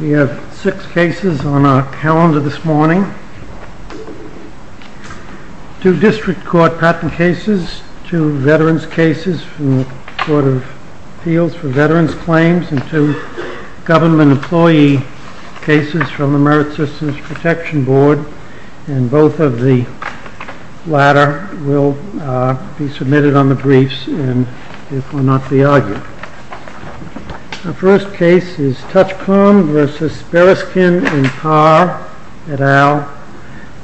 We have six cases on our calendar this morning. Two district court patent cases, two veterans cases from the Court of Appeals for Veterans Claims, and two government employee cases from the Merit Systems Protection Board. Both of the latter will be submitted on the briefs and therefore not be argued. The first case is Touchcom v. Bereskin & Parr et al.,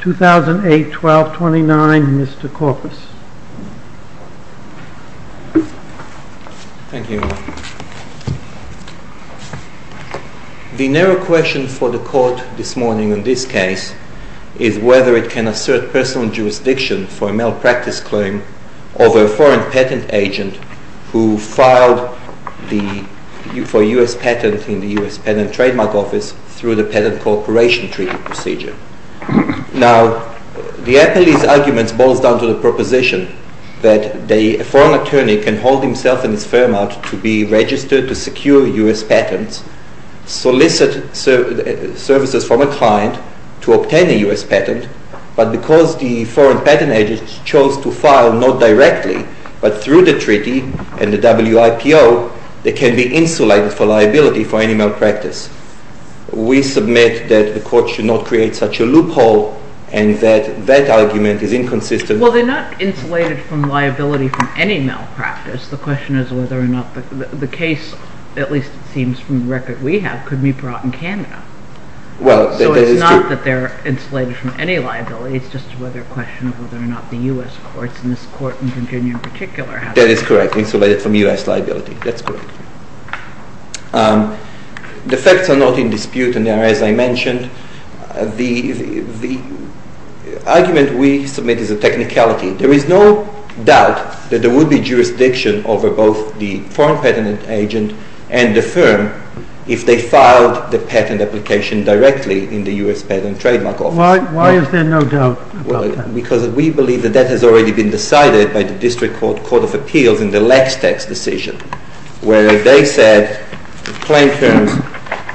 2008-12-29, Mr. Korpis. Thank you. The narrow question for the Court this morning in this case is whether it can assert personal jurisdiction for a malpractice claim of a foreign patent agent who filed for U.S. patent in the U.S. Patent Trademark Office through the Patent Corporation Treaty Procedure. Now, the appellee's argument boils down to the proposition that a foreign attorney can hold himself and his firm out to be registered to secure U.S. patents, solicit services from a client to obtain a U.S. patent, but because the foreign patent agent chose to file not directly but through the treaty and the WIPO, they can be insulated for liability for any malpractice. We submit that the Court should not create such a loophole and that that argument is inconsistent. Well, they're not insulated from liability for any malpractice. The question is whether or not the case, at least it seems from the record we have, could be brought in Canada. So it's not that they're insulated from any liability, it's just a question of whether or not the U.S. courts, and this court in Virginia in particular, have been insulated from U.S. liability. That's correct. The facts are not in dispute, and as I mentioned, the argument we submit is a technicality. There is no doubt that there would be jurisdiction over both the foreign patent agent and the firm if they filed the patent application directly in the U.S. Patent and Trademark Office. Why is there no doubt about that? Because we believe that that has already been decided by the District Court of Appeals in the Lax Tax Decision, where they said, plain terms,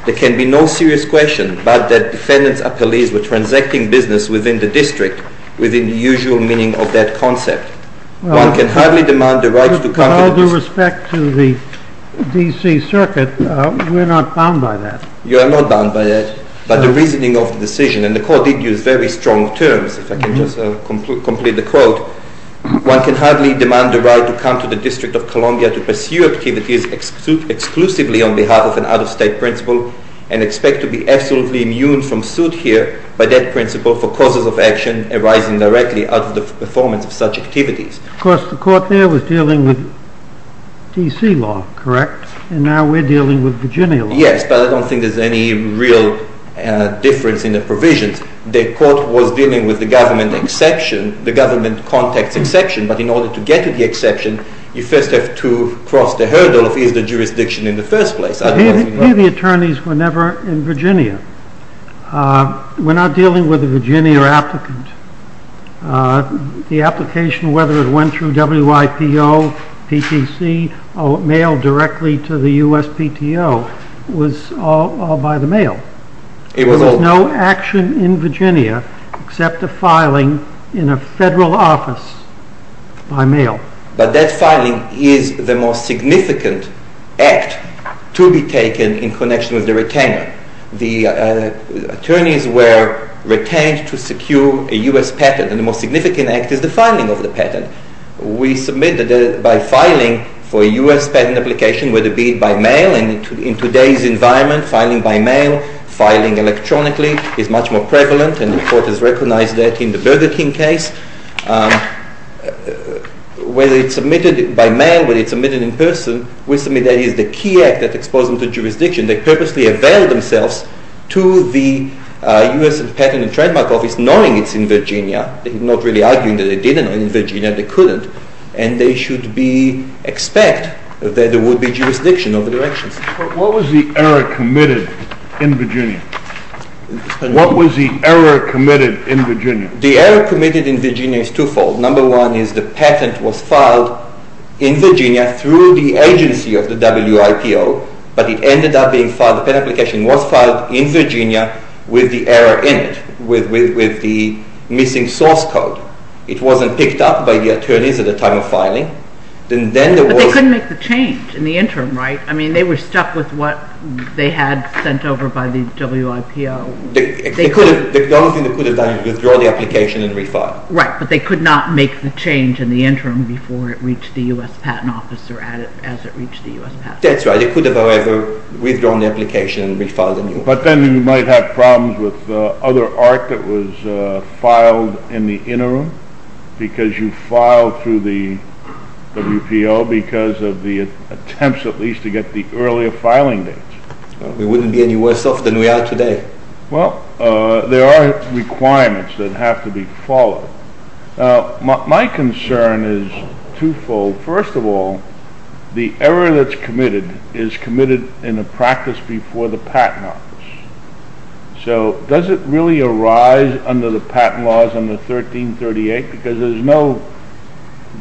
there can be no serious question but that defendants or appellees were transacting business within the district within the usual meaning of that concept. Well, with all due respect to the D.C. Circuit, we're not bound by that. You are not bound by that, but the reasoning of the decision, and the court did use very strong terms, if I can just complete the quote, one can hardly demand the right to come to the District of Columbia to pursue activities exclusively on behalf of an out-of-state principal and expect to be absolutely immune from suit here by that principle for causes of action arising directly out of the performance of such activities. Of course, the court there was dealing with D.C. law, correct? And now we're dealing with Virginia law. Yes, but I don't think there's any real difference in the provisions. The court was dealing with the government exception, the government context exception, but in order to get to the exception, you first have to cross the hurdle of, is there jurisdiction in the first place? Here the attorneys were never in Virginia. We're not dealing with a Virginia applicant. The application, whether it went through WIPO, PTC, or mailed directly to the USPTO, was all by the mail. There was no action in Virginia except a filing in a federal office by mail. But that filing is the most significant act to be taken in connection with the retainer. The attorneys were retained to secure a US patent, and the most significant act is the filing of the patent. We submitted it by filing for a US patent application, whether it be by mail. And in today's environment, filing by mail, filing electronically is much more prevalent, and the court has recognized that in the Burger King case. Whether it's submitted by mail, whether it's submitted in person, we submit that it is the key act that exposes the jurisdiction. They purposely avail themselves to the US patent and trademark office, knowing it's in Virginia. They're not really arguing that they did it in Virginia, they couldn't. And they should expect that there would be jurisdiction over directions. What was the error committed in Virginia? What was the error committed in Virginia? The error committed in Virginia is twofold. Number one is the patent was filed in Virginia through the agency of the WIPO, but it ended up being filed, the patent application was filed in Virginia with the error in it, with the missing source code. It wasn't picked up by the attorneys at the time of filing. But they couldn't make the change in the interim, right? They were stuck with what they had sent over by the WIPO. The only thing they could have done is withdraw the application and refile. Right, but they could not make the change in the interim before it reached the US patent office or as it reached the US patent office. That's right, they could have, however, withdrawn the application and refiled it. But then you might have problems with other art that was filed in the interim, because you filed through the WIPO because of the attempts at least to get the earlier filing date. We wouldn't be any worse off than we are today. Well, there are requirements that have to be followed. Now, my concern is twofold. First of all, the error that's committed is committed in a practice before the patent office. So, does it really arise under the patent laws under 1338? Because there's no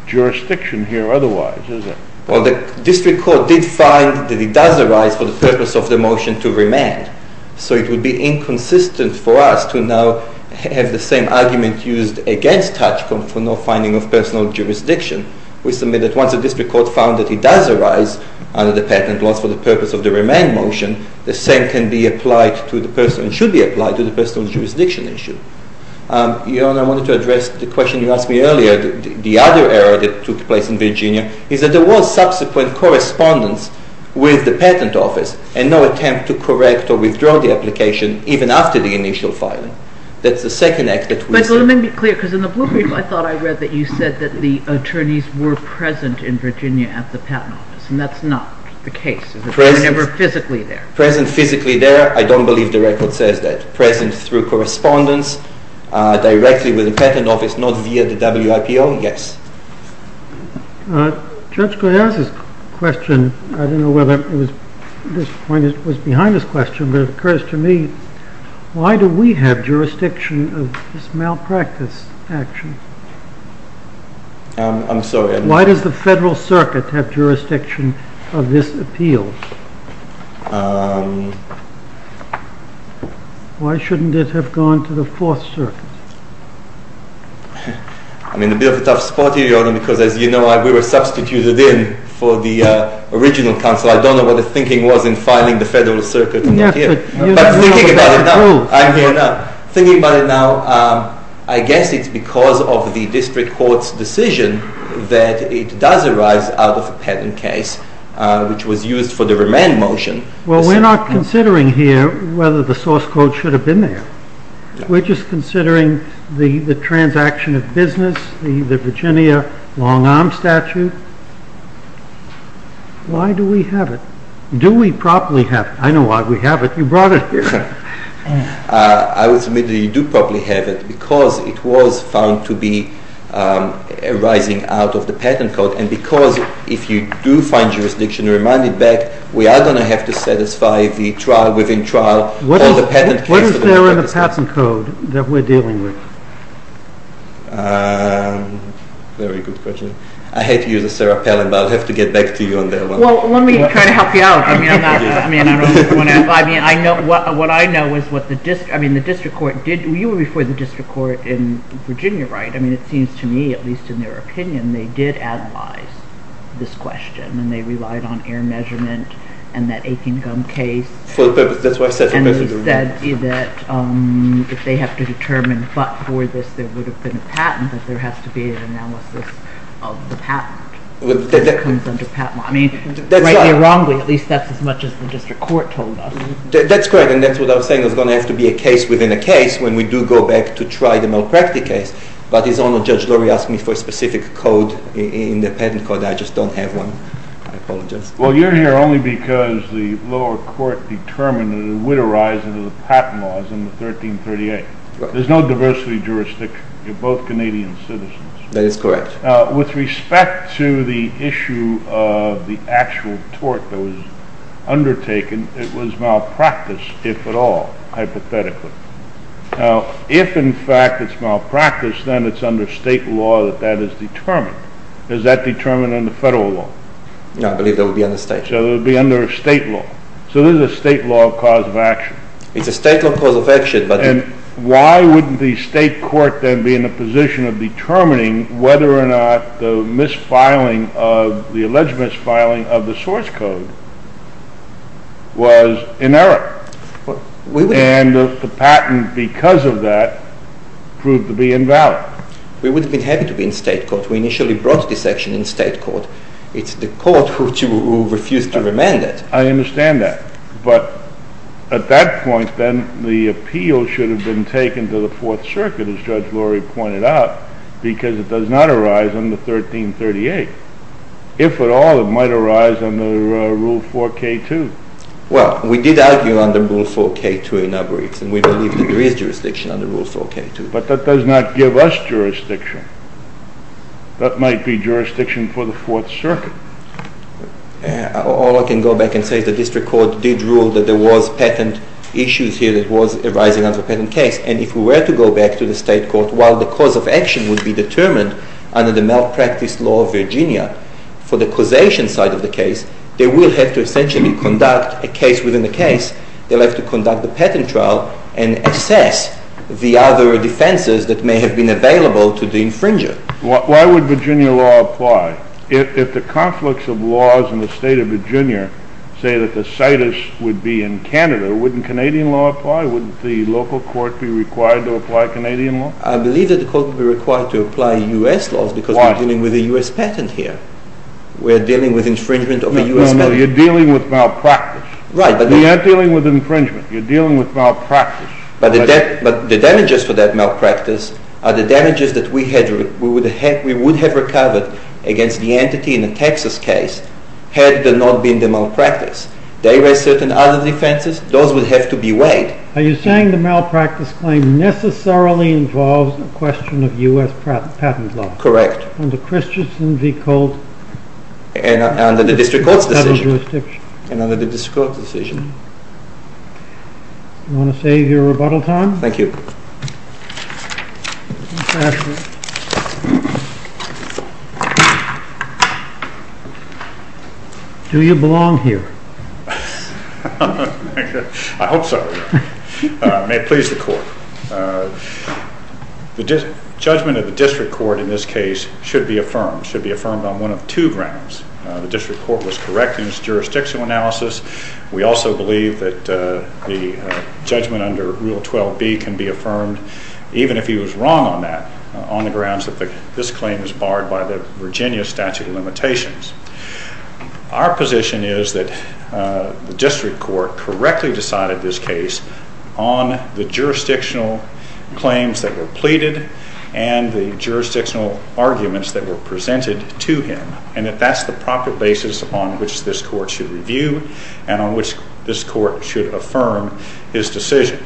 jurisdiction here otherwise, is there? Well, the district court did find that it does arise for the purpose of the motion to remand. So, it would be inconsistent for us to now have the same argument used against Tachcom for no finding of personal jurisdiction. We submit that once the district court found that it does arise under the patent laws for the purpose of the remand motion, the same can be applied to the person, should be applied to the person on the jurisdiction issue. Your Honor, I wanted to address the question you asked me earlier, the other error that took place in Virginia, is that there was subsequent correspondence with the patent office and no attempt to correct or withdraw the application even after the initial filing. That's the second act that we see. Michael, let me be clear, because in the blueprint I thought I read that you said that the attorneys were present in Virginia at the patent office. And that's not the case. They were never physically there. Present physically there, I don't believe the record says that. Present through correspondence directly with the patent office, not via the WIPO, yes. Judge Goyal's question, I don't know whether this point was behind his question, but it occurs to me, why do we have jurisdiction of this malpractice action? I'm sorry. Why does the Federal Circuit have jurisdiction of this appeal? Why shouldn't it have gone to the Fourth Circuit? I'm in a bit of a tough spot here, Your Honor, because as you know, we were substituted in for the original counsel. I don't know what the thinking was in filing the Federal Circuit. But thinking about it now, I guess it's because of the district court's decision that it does arise out of a patent case, which was used for the remand motion. Well, we're not considering here whether the source code should have been there. We're just considering the transaction of business, the Virginia long arm statute. Why do we have it? Do we properly have it? I know why we have it. You brought it here. I would submit that you do properly have it, because it was found to be arising out of the patent code, and because if you do find jurisdiction to remand it back, we are going to have to satisfy the trial within trial. What is there in the patent code that we're dealing with? Very good question. I hate to use the Sarah Palin, but I'll have to get back to you on that one. Let me try to help you out. What I know is what the district court did. You were before the district court in Virginia, right? It seems to me, at least in their opinion, they did analyze this question, and they relied on air measurement and that aching gum case. That's what I said. And they said that if they have to determine, but for this there would have been a patent, that there has to be an analysis of the patent. This comes under patent law. I mean, rightly or wrongly, at least that's as much as the district court told us. That's correct, and that's what I was saying. There's going to have to be a case within a case when we do go back to try the malpractice case. But his Honor, Judge Lurie, asked me for a specific code in the patent code. I just don't have one. I apologize. Well, you're here only because the lower court determined that it would arise under the patent laws in the 1338. There's no diversity jurisdiction. You're both Canadian citizens. That is correct. With respect to the issue of the actual tort that was undertaken, it was malpractice, if at all, hypothetically. Now, if, in fact, it's malpractice, then it's under state law that that is determined. Is that determined under federal law? No, I believe that would be under state law. So it would be under state law. So this is a state law cause of action. It's a state law cause of action. And why wouldn't the state court then be in a position of determining whether or not the alleged misfiling of the source code was in error? And the patent, because of that, proved to be invalid. We would have been happy to be in state court. We initially brought this action in state court. It's the court who refused to remand it. I understand that. But at that point, then, the appeal should have been taken to the Fourth Circuit, as Judge Lorry pointed out, because it does not arise under 1338. If at all, it might arise under Rule 4K2. Well, we did argue under Rule 4K2 in our briefs, and we believe that there is jurisdiction under Rule 4K2. But that does not give us jurisdiction. That might be jurisdiction for the Fourth Circuit. All I can go back and say is the district court did rule that there was patent issues here that was arising under a patent case. And if we were to go back to the state court, while the cause of action would be determined under the malpractice law of Virginia for the causation side of the case, they will have to essentially conduct a case within a case. They'll have to conduct the patent trial and assess the other defenses that may have been available to the infringer. Why would Virginia law apply? If the conflicts of laws in the state of Virginia say that the situs would be in Canada, wouldn't Canadian law apply? Wouldn't the local court be required to apply Canadian law? I believe that the court would be required to apply U.S. laws because we're dealing with a U.S. patent here. We're dealing with infringement of a U.S. patent. No, no, you're dealing with malpractice. Right, but... You're not dealing with infringement. You're dealing with malpractice. But the damages for that malpractice are the damages that we would have recovered against the entity in the Texas case had there not been the malpractice. They raise certain other defenses. Those would have to be weighed. Are you saying the malpractice claim necessarily involves a question of U.S. patent law? Under Christensen v. Colt? And under the district court's decision. And under the district court's decision. Do you want to save your rebuttal time? Thank you. Do you belong here? I hope so. May it please the court. The judgment of the district court in this case should be affirmed. It should be affirmed on one of two grounds. The district court was correct in its jurisdictional analysis. We also believe that the judgment under Rule 12b can be affirmed even if he was wrong on that. On the grounds that this claim is barred by the Virginia statute of limitations. Our position is that the district court correctly decided this case on the jurisdictional claims that were pleaded and the jurisdictional arguments that were presented to him. And that that's the proper basis on which this court should review and on which this court should affirm his decision.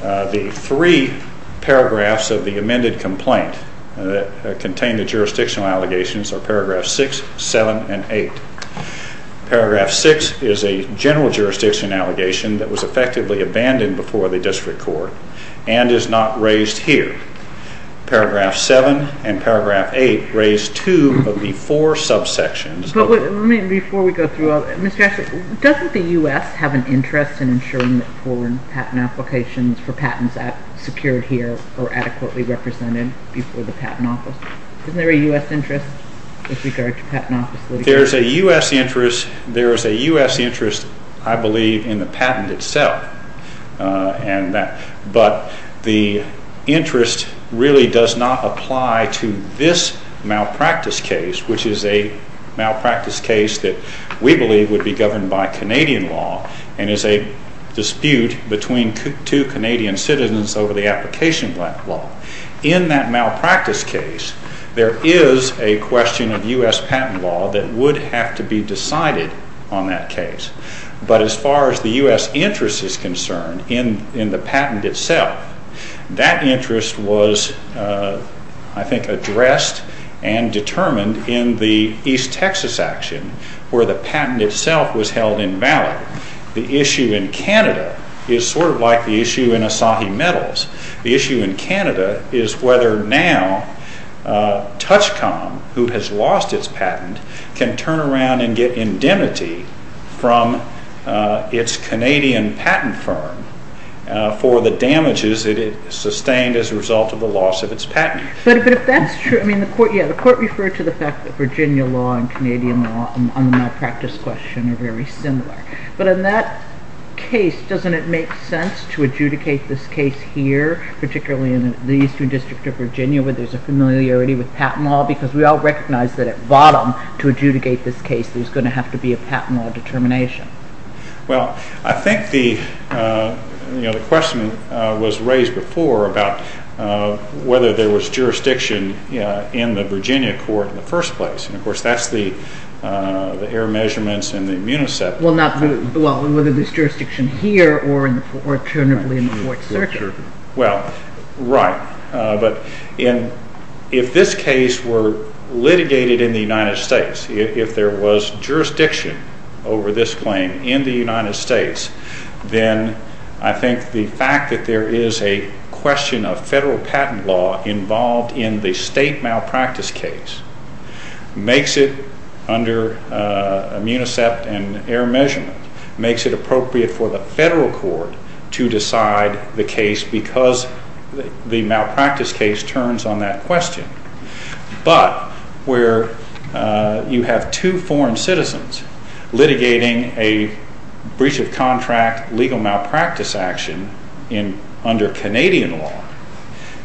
The three paragraphs of the amended complaint that contain the jurisdictional allegations are paragraph 6, 7, and 8. Paragraph 6 is a general jurisdiction allegation that was effectively abandoned before the district court and is not raised here. Paragraph 7 and paragraph 8 raise two of the four subsections. Before we go through, Mr. Ashley, doesn't the U.S. have an interest in ensuring that foreign patent applications for patents secured here are adequately represented before the Patent Office? Isn't there a U.S. interest with regard to Patent Office litigation? There is a U.S. interest. There is a U.S. interest, I believe, in the patent itself. But the interest really does not apply to this malpractice case, which is a malpractice case that we believe would be governed by Canadian law and is a dispute between two Canadian citizens over the application of that law. In that malpractice case, there is a question of U.S. patent law that would have to be decided on that case. But as far as the U.S. interest is concerned in the patent itself, that interest was, I think, addressed and determined in the East Texas action where the patent itself was held invalid. The issue in Canada is sort of like the issue in Asahi Metals. The issue in Canada is whether now Touchcom, who has lost its patent, can turn around and get indemnity from its Canadian patent firm for the damages it sustained as a result of the loss of its patent. But if that's true, the court referred to the fact that Virginia law and Canadian law on the malpractice question are very similar. But in that case, doesn't it make sense to adjudicate this case here, particularly in the Eastern District of Virginia, where there's a familiarity with patent law? Because we all recognize that at bottom, to adjudicate this case, there's going to have to be a patent law determination. Well, I think the question was raised before about whether there was jurisdiction in the Virginia court in the first place. And, of course, that's the error measurements in the Municep. Well, whether there's jurisdiction here or in the court circuit. Well, right. But if this case were litigated in the United States, if there was jurisdiction over this claim in the United States, then I think the fact that there is a question of federal patent law involved in the state malpractice case makes it, under Municep and error measurement, makes it appropriate for the federal court to decide the case because the malpractice case turns on that question. But where you have two foreign citizens litigating a breach of contract legal malpractice action under Canadian law,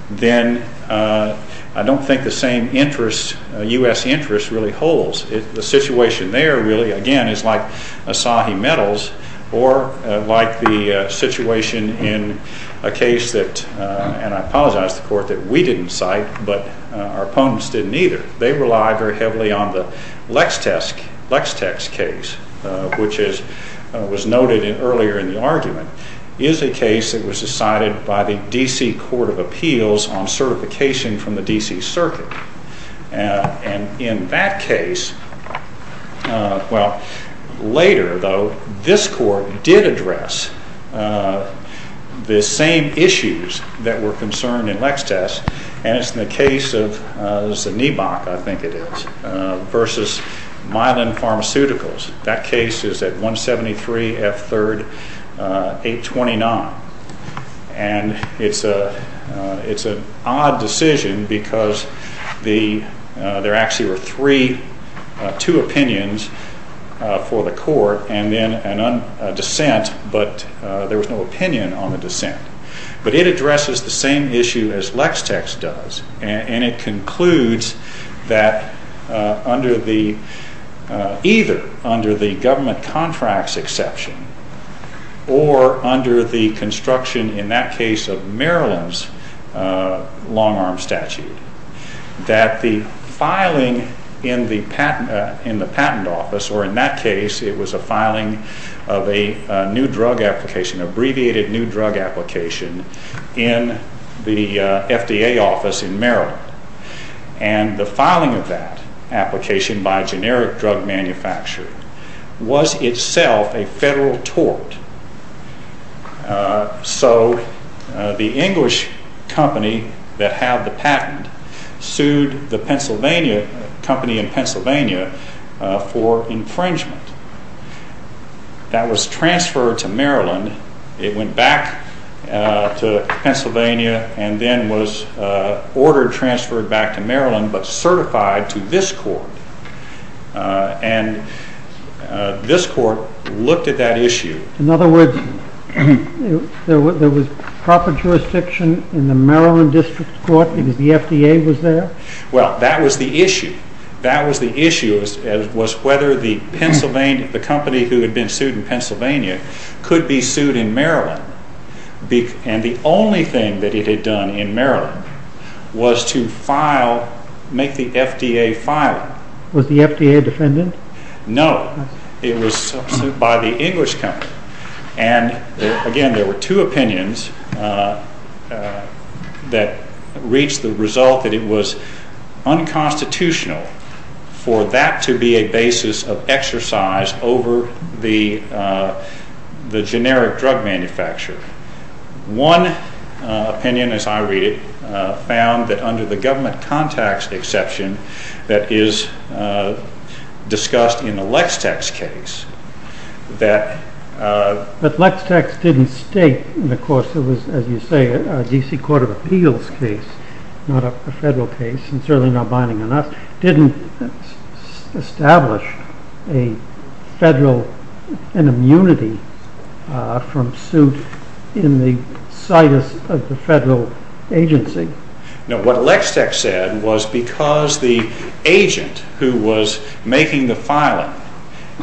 then I don't think the same U.S. interest really holds. The situation there really, again, is like Asahi Metals or like the situation in a case that, and I apologize to the court that we didn't cite, but our opponents didn't either. They relied very heavily on the Lextex case, which was noted earlier in the argument, is a case that was decided by the D.C. Court of Appeals on certification from the D.C. Circuit. And in that case, well, later though, this court did address the same issues that were concerned in Lextex, and it's in the case of Znibok, I think it is, versus Milan Pharmaceuticals. That case is at 173 F. 3rd, 829. And it's an odd decision because there actually were three, two opinions for the court and then a dissent, but there was no opinion on the dissent. But it addresses the same issue as Lextex does, and it concludes that either under the government contracts exception or under the construction, in that case, of Maryland's long-arm statute, that the filing in the patent office, or in that case it was a filing of a new drug application, abbreviated new drug application, in the FDA office in Maryland. And the filing of that application by a generic drug manufacturer was itself a federal tort. So the English company that had the patent sued the Pennsylvania company in Pennsylvania for infringement. That was transferred to Maryland. It went back to Pennsylvania and then was ordered transferred back to Maryland, but certified to this court. And this court looked at that issue. In other words, there was proper jurisdiction in the Maryland District Court because the FDA was there? Well, that was the issue. That was the issue, was whether the company who had been sued in Pennsylvania could be sued in Maryland. And the only thing that it had done in Maryland was to file, make the FDA file. Was the FDA a defendant? No. It was sued by the English company. And, again, there were two opinions that reached the result that it was unconstitutional for that to be a basis of exercise over the generic drug manufacturer. One opinion, as I read it, found that under the government contacts exception that is discussed in the Lex-Tex case that... But Lex-Tex didn't state, and of course it was, as you say, a D.C. Court of Appeals case, not a federal case, and certainly not binding on us, didn't establish a federal, an immunity from suit in the situs of the federal agency. No, what Lex-Tex said was because the agent who was making the filing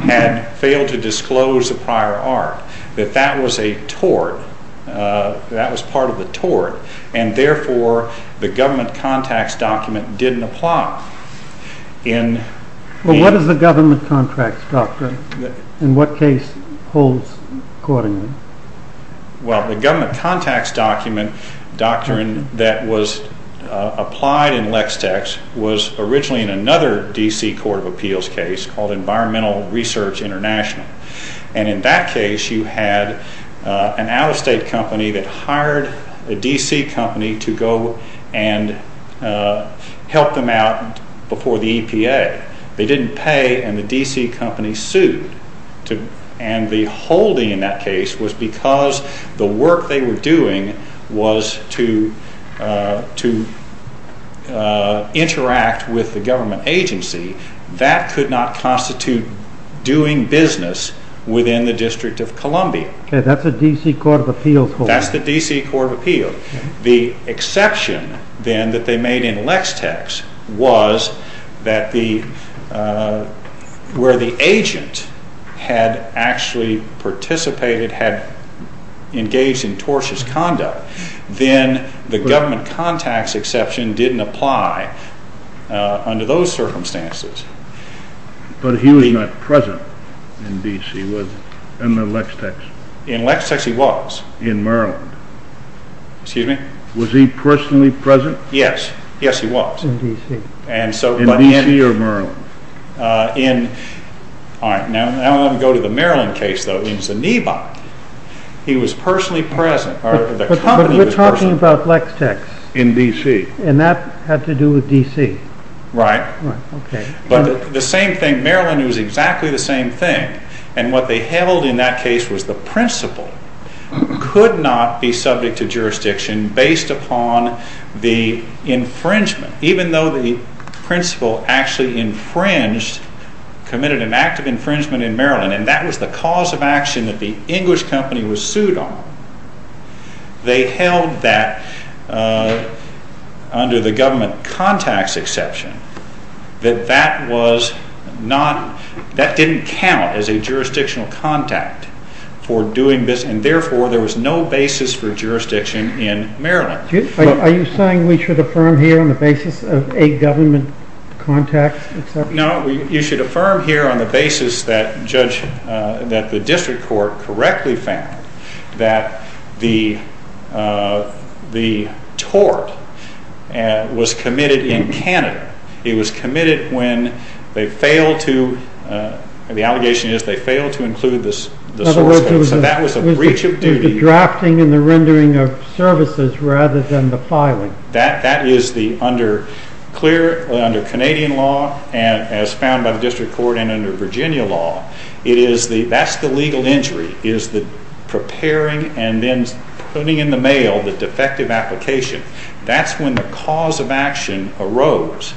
had failed to disclose the prior art, that that was a tort, that was part of the tort, and therefore the government contacts document didn't apply in... Well, what is the government contracts doctrine? In what case holds accordingly? Well, the government contacts doctrine that was applied in Lex-Tex was originally in another D.C. Court of Appeals case called Environmental Research International. And in that case, you had an out-of-state company that hired a D.C. company to go and help them out before the EPA. They didn't pay, and the D.C. company sued. And the holding in that case was because the work they were doing was to interact with the government agency. That could not constitute doing business within the District of Columbia. Okay, that's a D.C. Court of Appeals holding. That's the D.C. Court of Appeals. The exception, then, that they made in Lex-Tex was that the... where the agent had actually participated, had engaged in tortious conduct, then the government contacts exception didn't apply under those circumstances. But he was not present in D.C., was he, in the Lex-Tex? In Lex-Tex he was. In Maryland? Excuse me? Was he personally present? Yes, yes he was. In D.C. And so... In D.C. or Maryland? In... Alright, now let me go to the Maryland case, though. In Zaniba, he was personally present, or the company was personally... But we're talking about Lex-Tex. In D.C. And that had to do with D.C. Right. Right, okay. But the same thing, Maryland, it was exactly the same thing. And what they held in that case was the principal could not be subject to jurisdiction based upon the infringement. Even though the principal actually infringed, committed an act of infringement in Maryland, and that was the cause of action that the English company was sued on, they held that, under the government contacts exception, that that didn't count as a jurisdictional contact for doing this, and therefore there was no basis for jurisdiction in Maryland. Are you saying we should affirm here on the basis of a government contact? No, you should affirm here on the basis that the district court correctly found that the tort was committed in Canada. It was committed when they failed to, the allegation is they failed to include the source code. So that was a breach of duty. It was the drafting and the rendering of services rather than the filing. That is the, under clear, under Canadian law, as found by the district court, and under Virginia law, it is the, that's the legal injury, is the preparing and then putting in the mail the defective application. That's when the cause of action arose,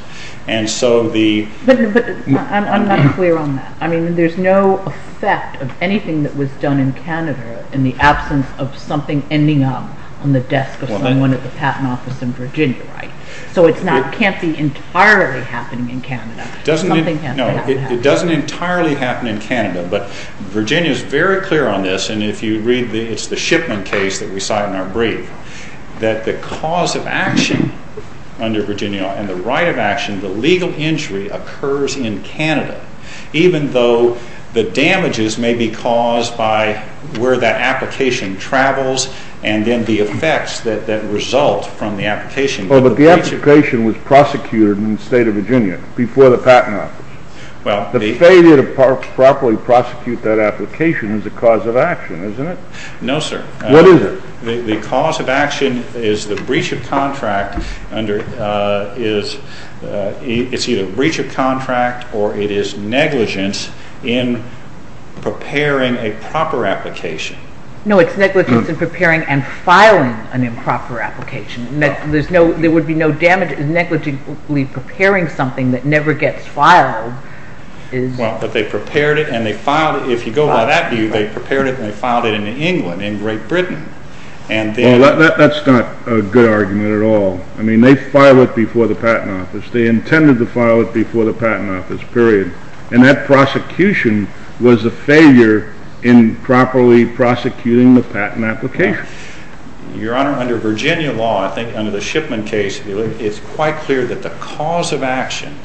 and so the... But I'm not clear on that. I mean, there's no effect of anything that was done in Canada in the absence of something ending up on the desk of someone at the patent office in Virginia, right? So it's not, can't be entirely happening in Canada. Doesn't, no, it doesn't entirely happen in Canada, but Virginia is very clear on this, and if you read the, it's the Shipman case that we cite in our brief, that the cause of action under Virginia law and the right of action, the legal injury occurs in Canada, even though the damages may be caused by where that application travels and then the effects that result from the application. Well, but the application was prosecuted in the state of Virginia before the patent office. The failure to properly prosecute that application is a cause of action, isn't it? No, sir. What is it? The cause of action is the breach of contract under, is, it's either a breach of contract or it is negligence in preparing a proper application. No, it's negligence in preparing and filing an improper application. There would be no damage in negligently preparing something that never gets filed. Well, but they prepared it and they filed it. If you go by that view, they prepared it and they filed it in England, in Great Britain. Well, that's not a good argument at all. I mean, they filed it before the patent office. They intended to file it before the patent office, period. And that prosecution was a failure in properly prosecuting the patent application. Your Honor, under Virginia law, I think under the Shipman case, it's quite clear that the cause of action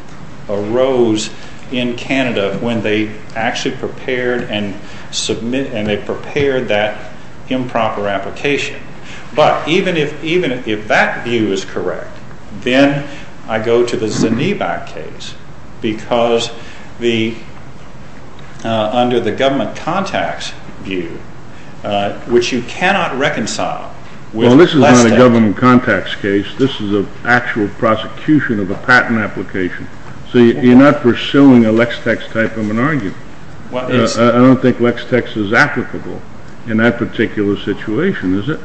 arose in Canada when they actually prepared and submitted, and they prepared that improper application. But even if that view is correct, then I go to the Zanibat case because under the government contacts view, which you cannot reconcile with Lex-Tex. Well, this is not a government contacts case. This is an actual prosecution of a patent application. So you're not pursuing a Lex-Tex type of an argument. I don't think Lex-Tex is applicable in that particular situation, is it,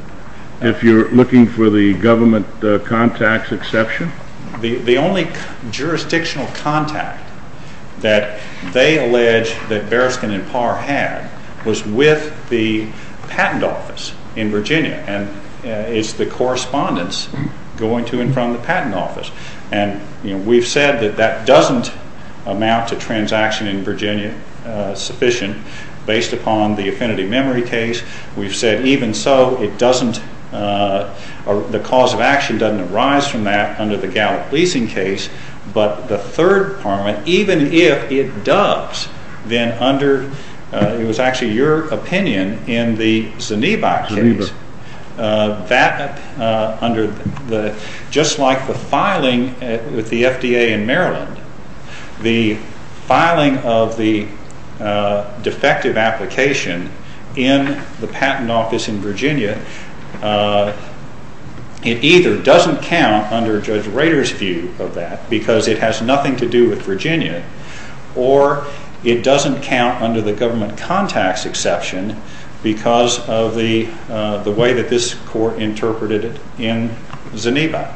if you're looking for the government contacts exception? The only jurisdictional contact that they allege that Bereskin and Parr had was with the patent office in Virginia, and it's the correspondence going to and from the patent office. And we've said that that doesn't amount to transaction in Virginia sufficient based upon the Affinity Memory case. We've said even so, the cause of action doesn't arise from that under the Gallup leasing case. But the third department, even if it does, then under, it was actually your opinion in the Zanibat case, just like the filing with the FDA in Maryland, the filing of the defective application in the patent office in Virginia, it either doesn't count under Judge Rader's view of that, because it has nothing to do with Virginia, or it doesn't count under the government contacts exception because of the way that this court interpreted it in Zanibat.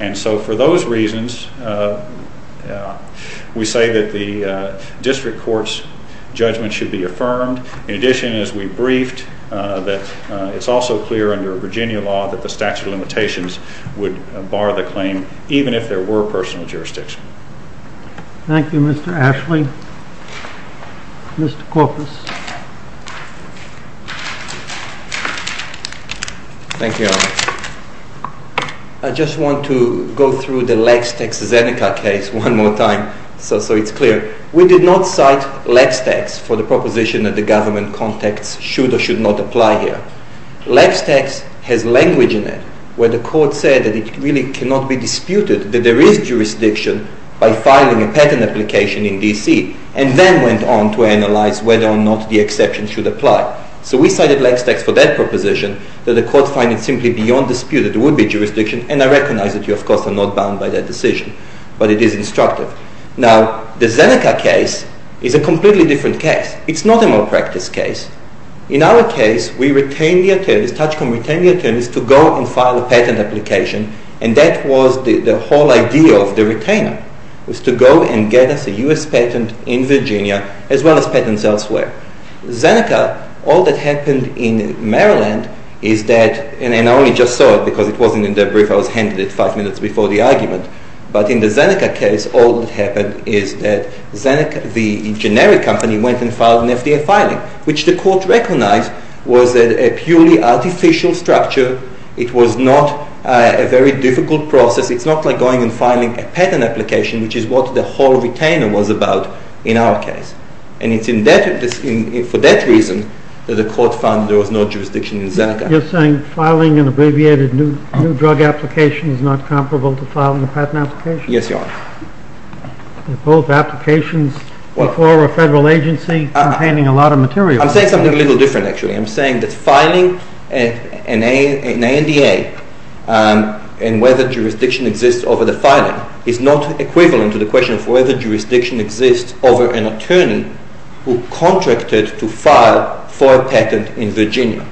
And so for those reasons, we say that the district court's judgment should be affirmed. In addition, as we briefed, that it's also clear under Virginia law that the statute of limitations would bar the claim, even if there were personal jurisdiction. Thank you, Mr. Ashley. Mr. Corpus. Thank you. I just want to go through the Lex-Tex-Zeneca case one more time, so it's clear. We did not cite Lex-Tex for the proposition that the government contacts should or should not apply here. Lex-Tex has language in it where the court said that it really cannot be disputed that there is jurisdiction by filing a patent application in D.C., so we cited Lex-Tex for that proposition that the court find it simply beyond dispute that there would be jurisdiction, and I recognize that you, of course, are not bound by that decision, but it is instructive. Now, the Zeneca case is a completely different case. It's not a malpractice case. In our case, we retained the attorneys, Tachcom retained the attorneys, to go and file a patent application, and that was the whole idea of the retainer, was to go and get us a U.S. patent in Virginia as well as patents elsewhere. Zeneca, all that happened in Maryland is that, and I only just saw it because it wasn't in the brief. I was handed it five minutes before the argument, but in the Zeneca case, all that happened is that Zeneca, the generic company, went and filed an FDA filing, which the court recognized was a purely artificial structure. It was not a very difficult process. It's not like going and filing a patent application, which is what the whole retainer was about in our case, and it's for that reason that the court found there was no jurisdiction in Zeneca. You're saying filing an abbreviated new drug application is not comparable to filing a patent application? Yes, Your Honor. Both applications before a federal agency containing a lot of material. I'm saying something a little different, actually. I'm saying that filing an ANDA and whether jurisdiction exists over the filing is not equivalent to the question of whether jurisdiction exists over an attorney who contracted to file for a patent in Virginia.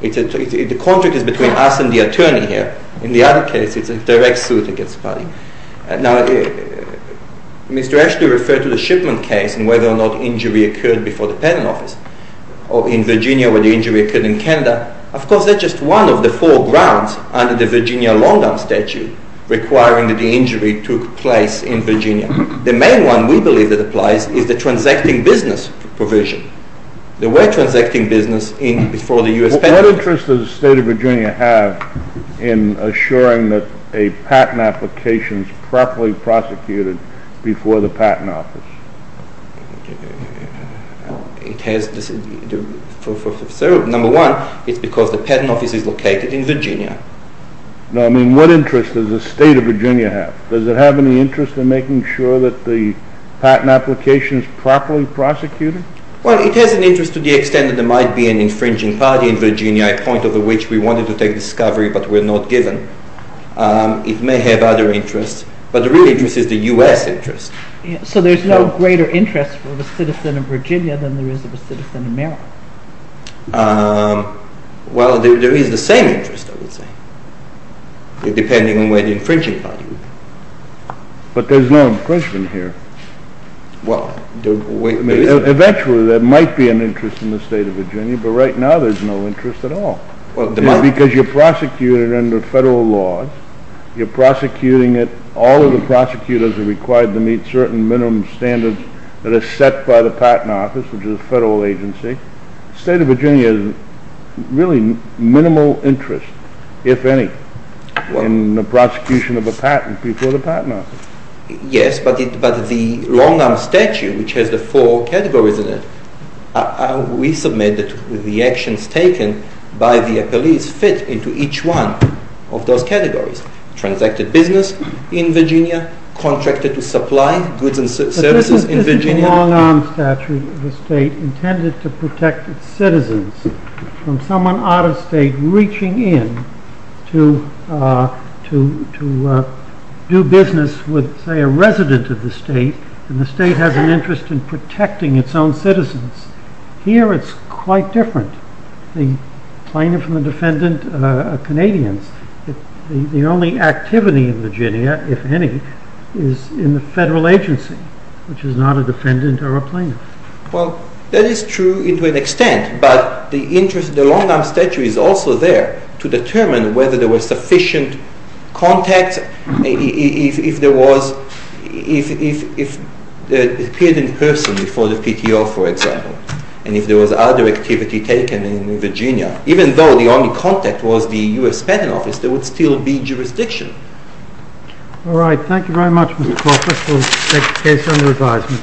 The contract is between us and the attorney here. In the other case, it's a direct suit against the party. Now, Mr. Ashton referred to the shipment case and whether or not injury occurred before the patent office, or in Virginia where the injury occurred in Canada. Of course, that's just one of the four grounds under the Virginia long-term statute requiring that the injury took place in Virginia. The main one we believe that applies is the transacting business provision. There were transacting business before the U.S. patent office. What interest does the state of Virginia have in assuring that a patent application is properly prosecuted before the patent office? Number one, it's because the patent office is located in Virginia. No, I mean what interest does the state of Virginia have? Does it have any interest in making sure that the patent application is properly prosecuted? Well, it has an interest to the extent that there might be an infringing party in Virginia, a point over which we wanted to take discovery but were not given. It may have other interests, but the real interest is the U.S. interest. So there's no greater interest for the citizen of Virginia than there is of a citizen in Maryland? Well, there is the same interest, I would say, depending on where the infringing party is. But there's no infringement here. Well, there isn't. Eventually, there might be an interest in the state of Virginia, but right now there's no interest at all because you prosecute it under federal laws. You're prosecuting it. All of the prosecutors are required to meet certain minimum standards that are set by the patent office, which is a federal agency. The state of Virginia has really minimal interest, if any, in the prosecution of a patent before the patent office. Yes, but the long arm statute, which has the four categories in it, we submit that the actions taken by the appellees fit into each one of those categories. Transacted business in Virginia, contracted to supply goods and services in Virginia. But isn't the long arm statute of the state intended to protect its citizens from someone out of state reaching in to do business with, say, a resident of the state, and the state has an interest in protecting its own citizens? Here it's quite different. The plaintiff and the defendant are Canadians. The only activity in Virginia, if any, is in the federal agency, which is not a defendant or a plaintiff. Well, that is true to an extent, but the long arm statute is also there to determine whether there were sufficient contacts, if there appeared in person before the PTO, for example, and if there was other activity taken in Virginia. Even though the only contact was the U.S. Patent Office, there would still be jurisdiction. All right. Thank you very much, Mr. Crawford. We'll take the case under advisement.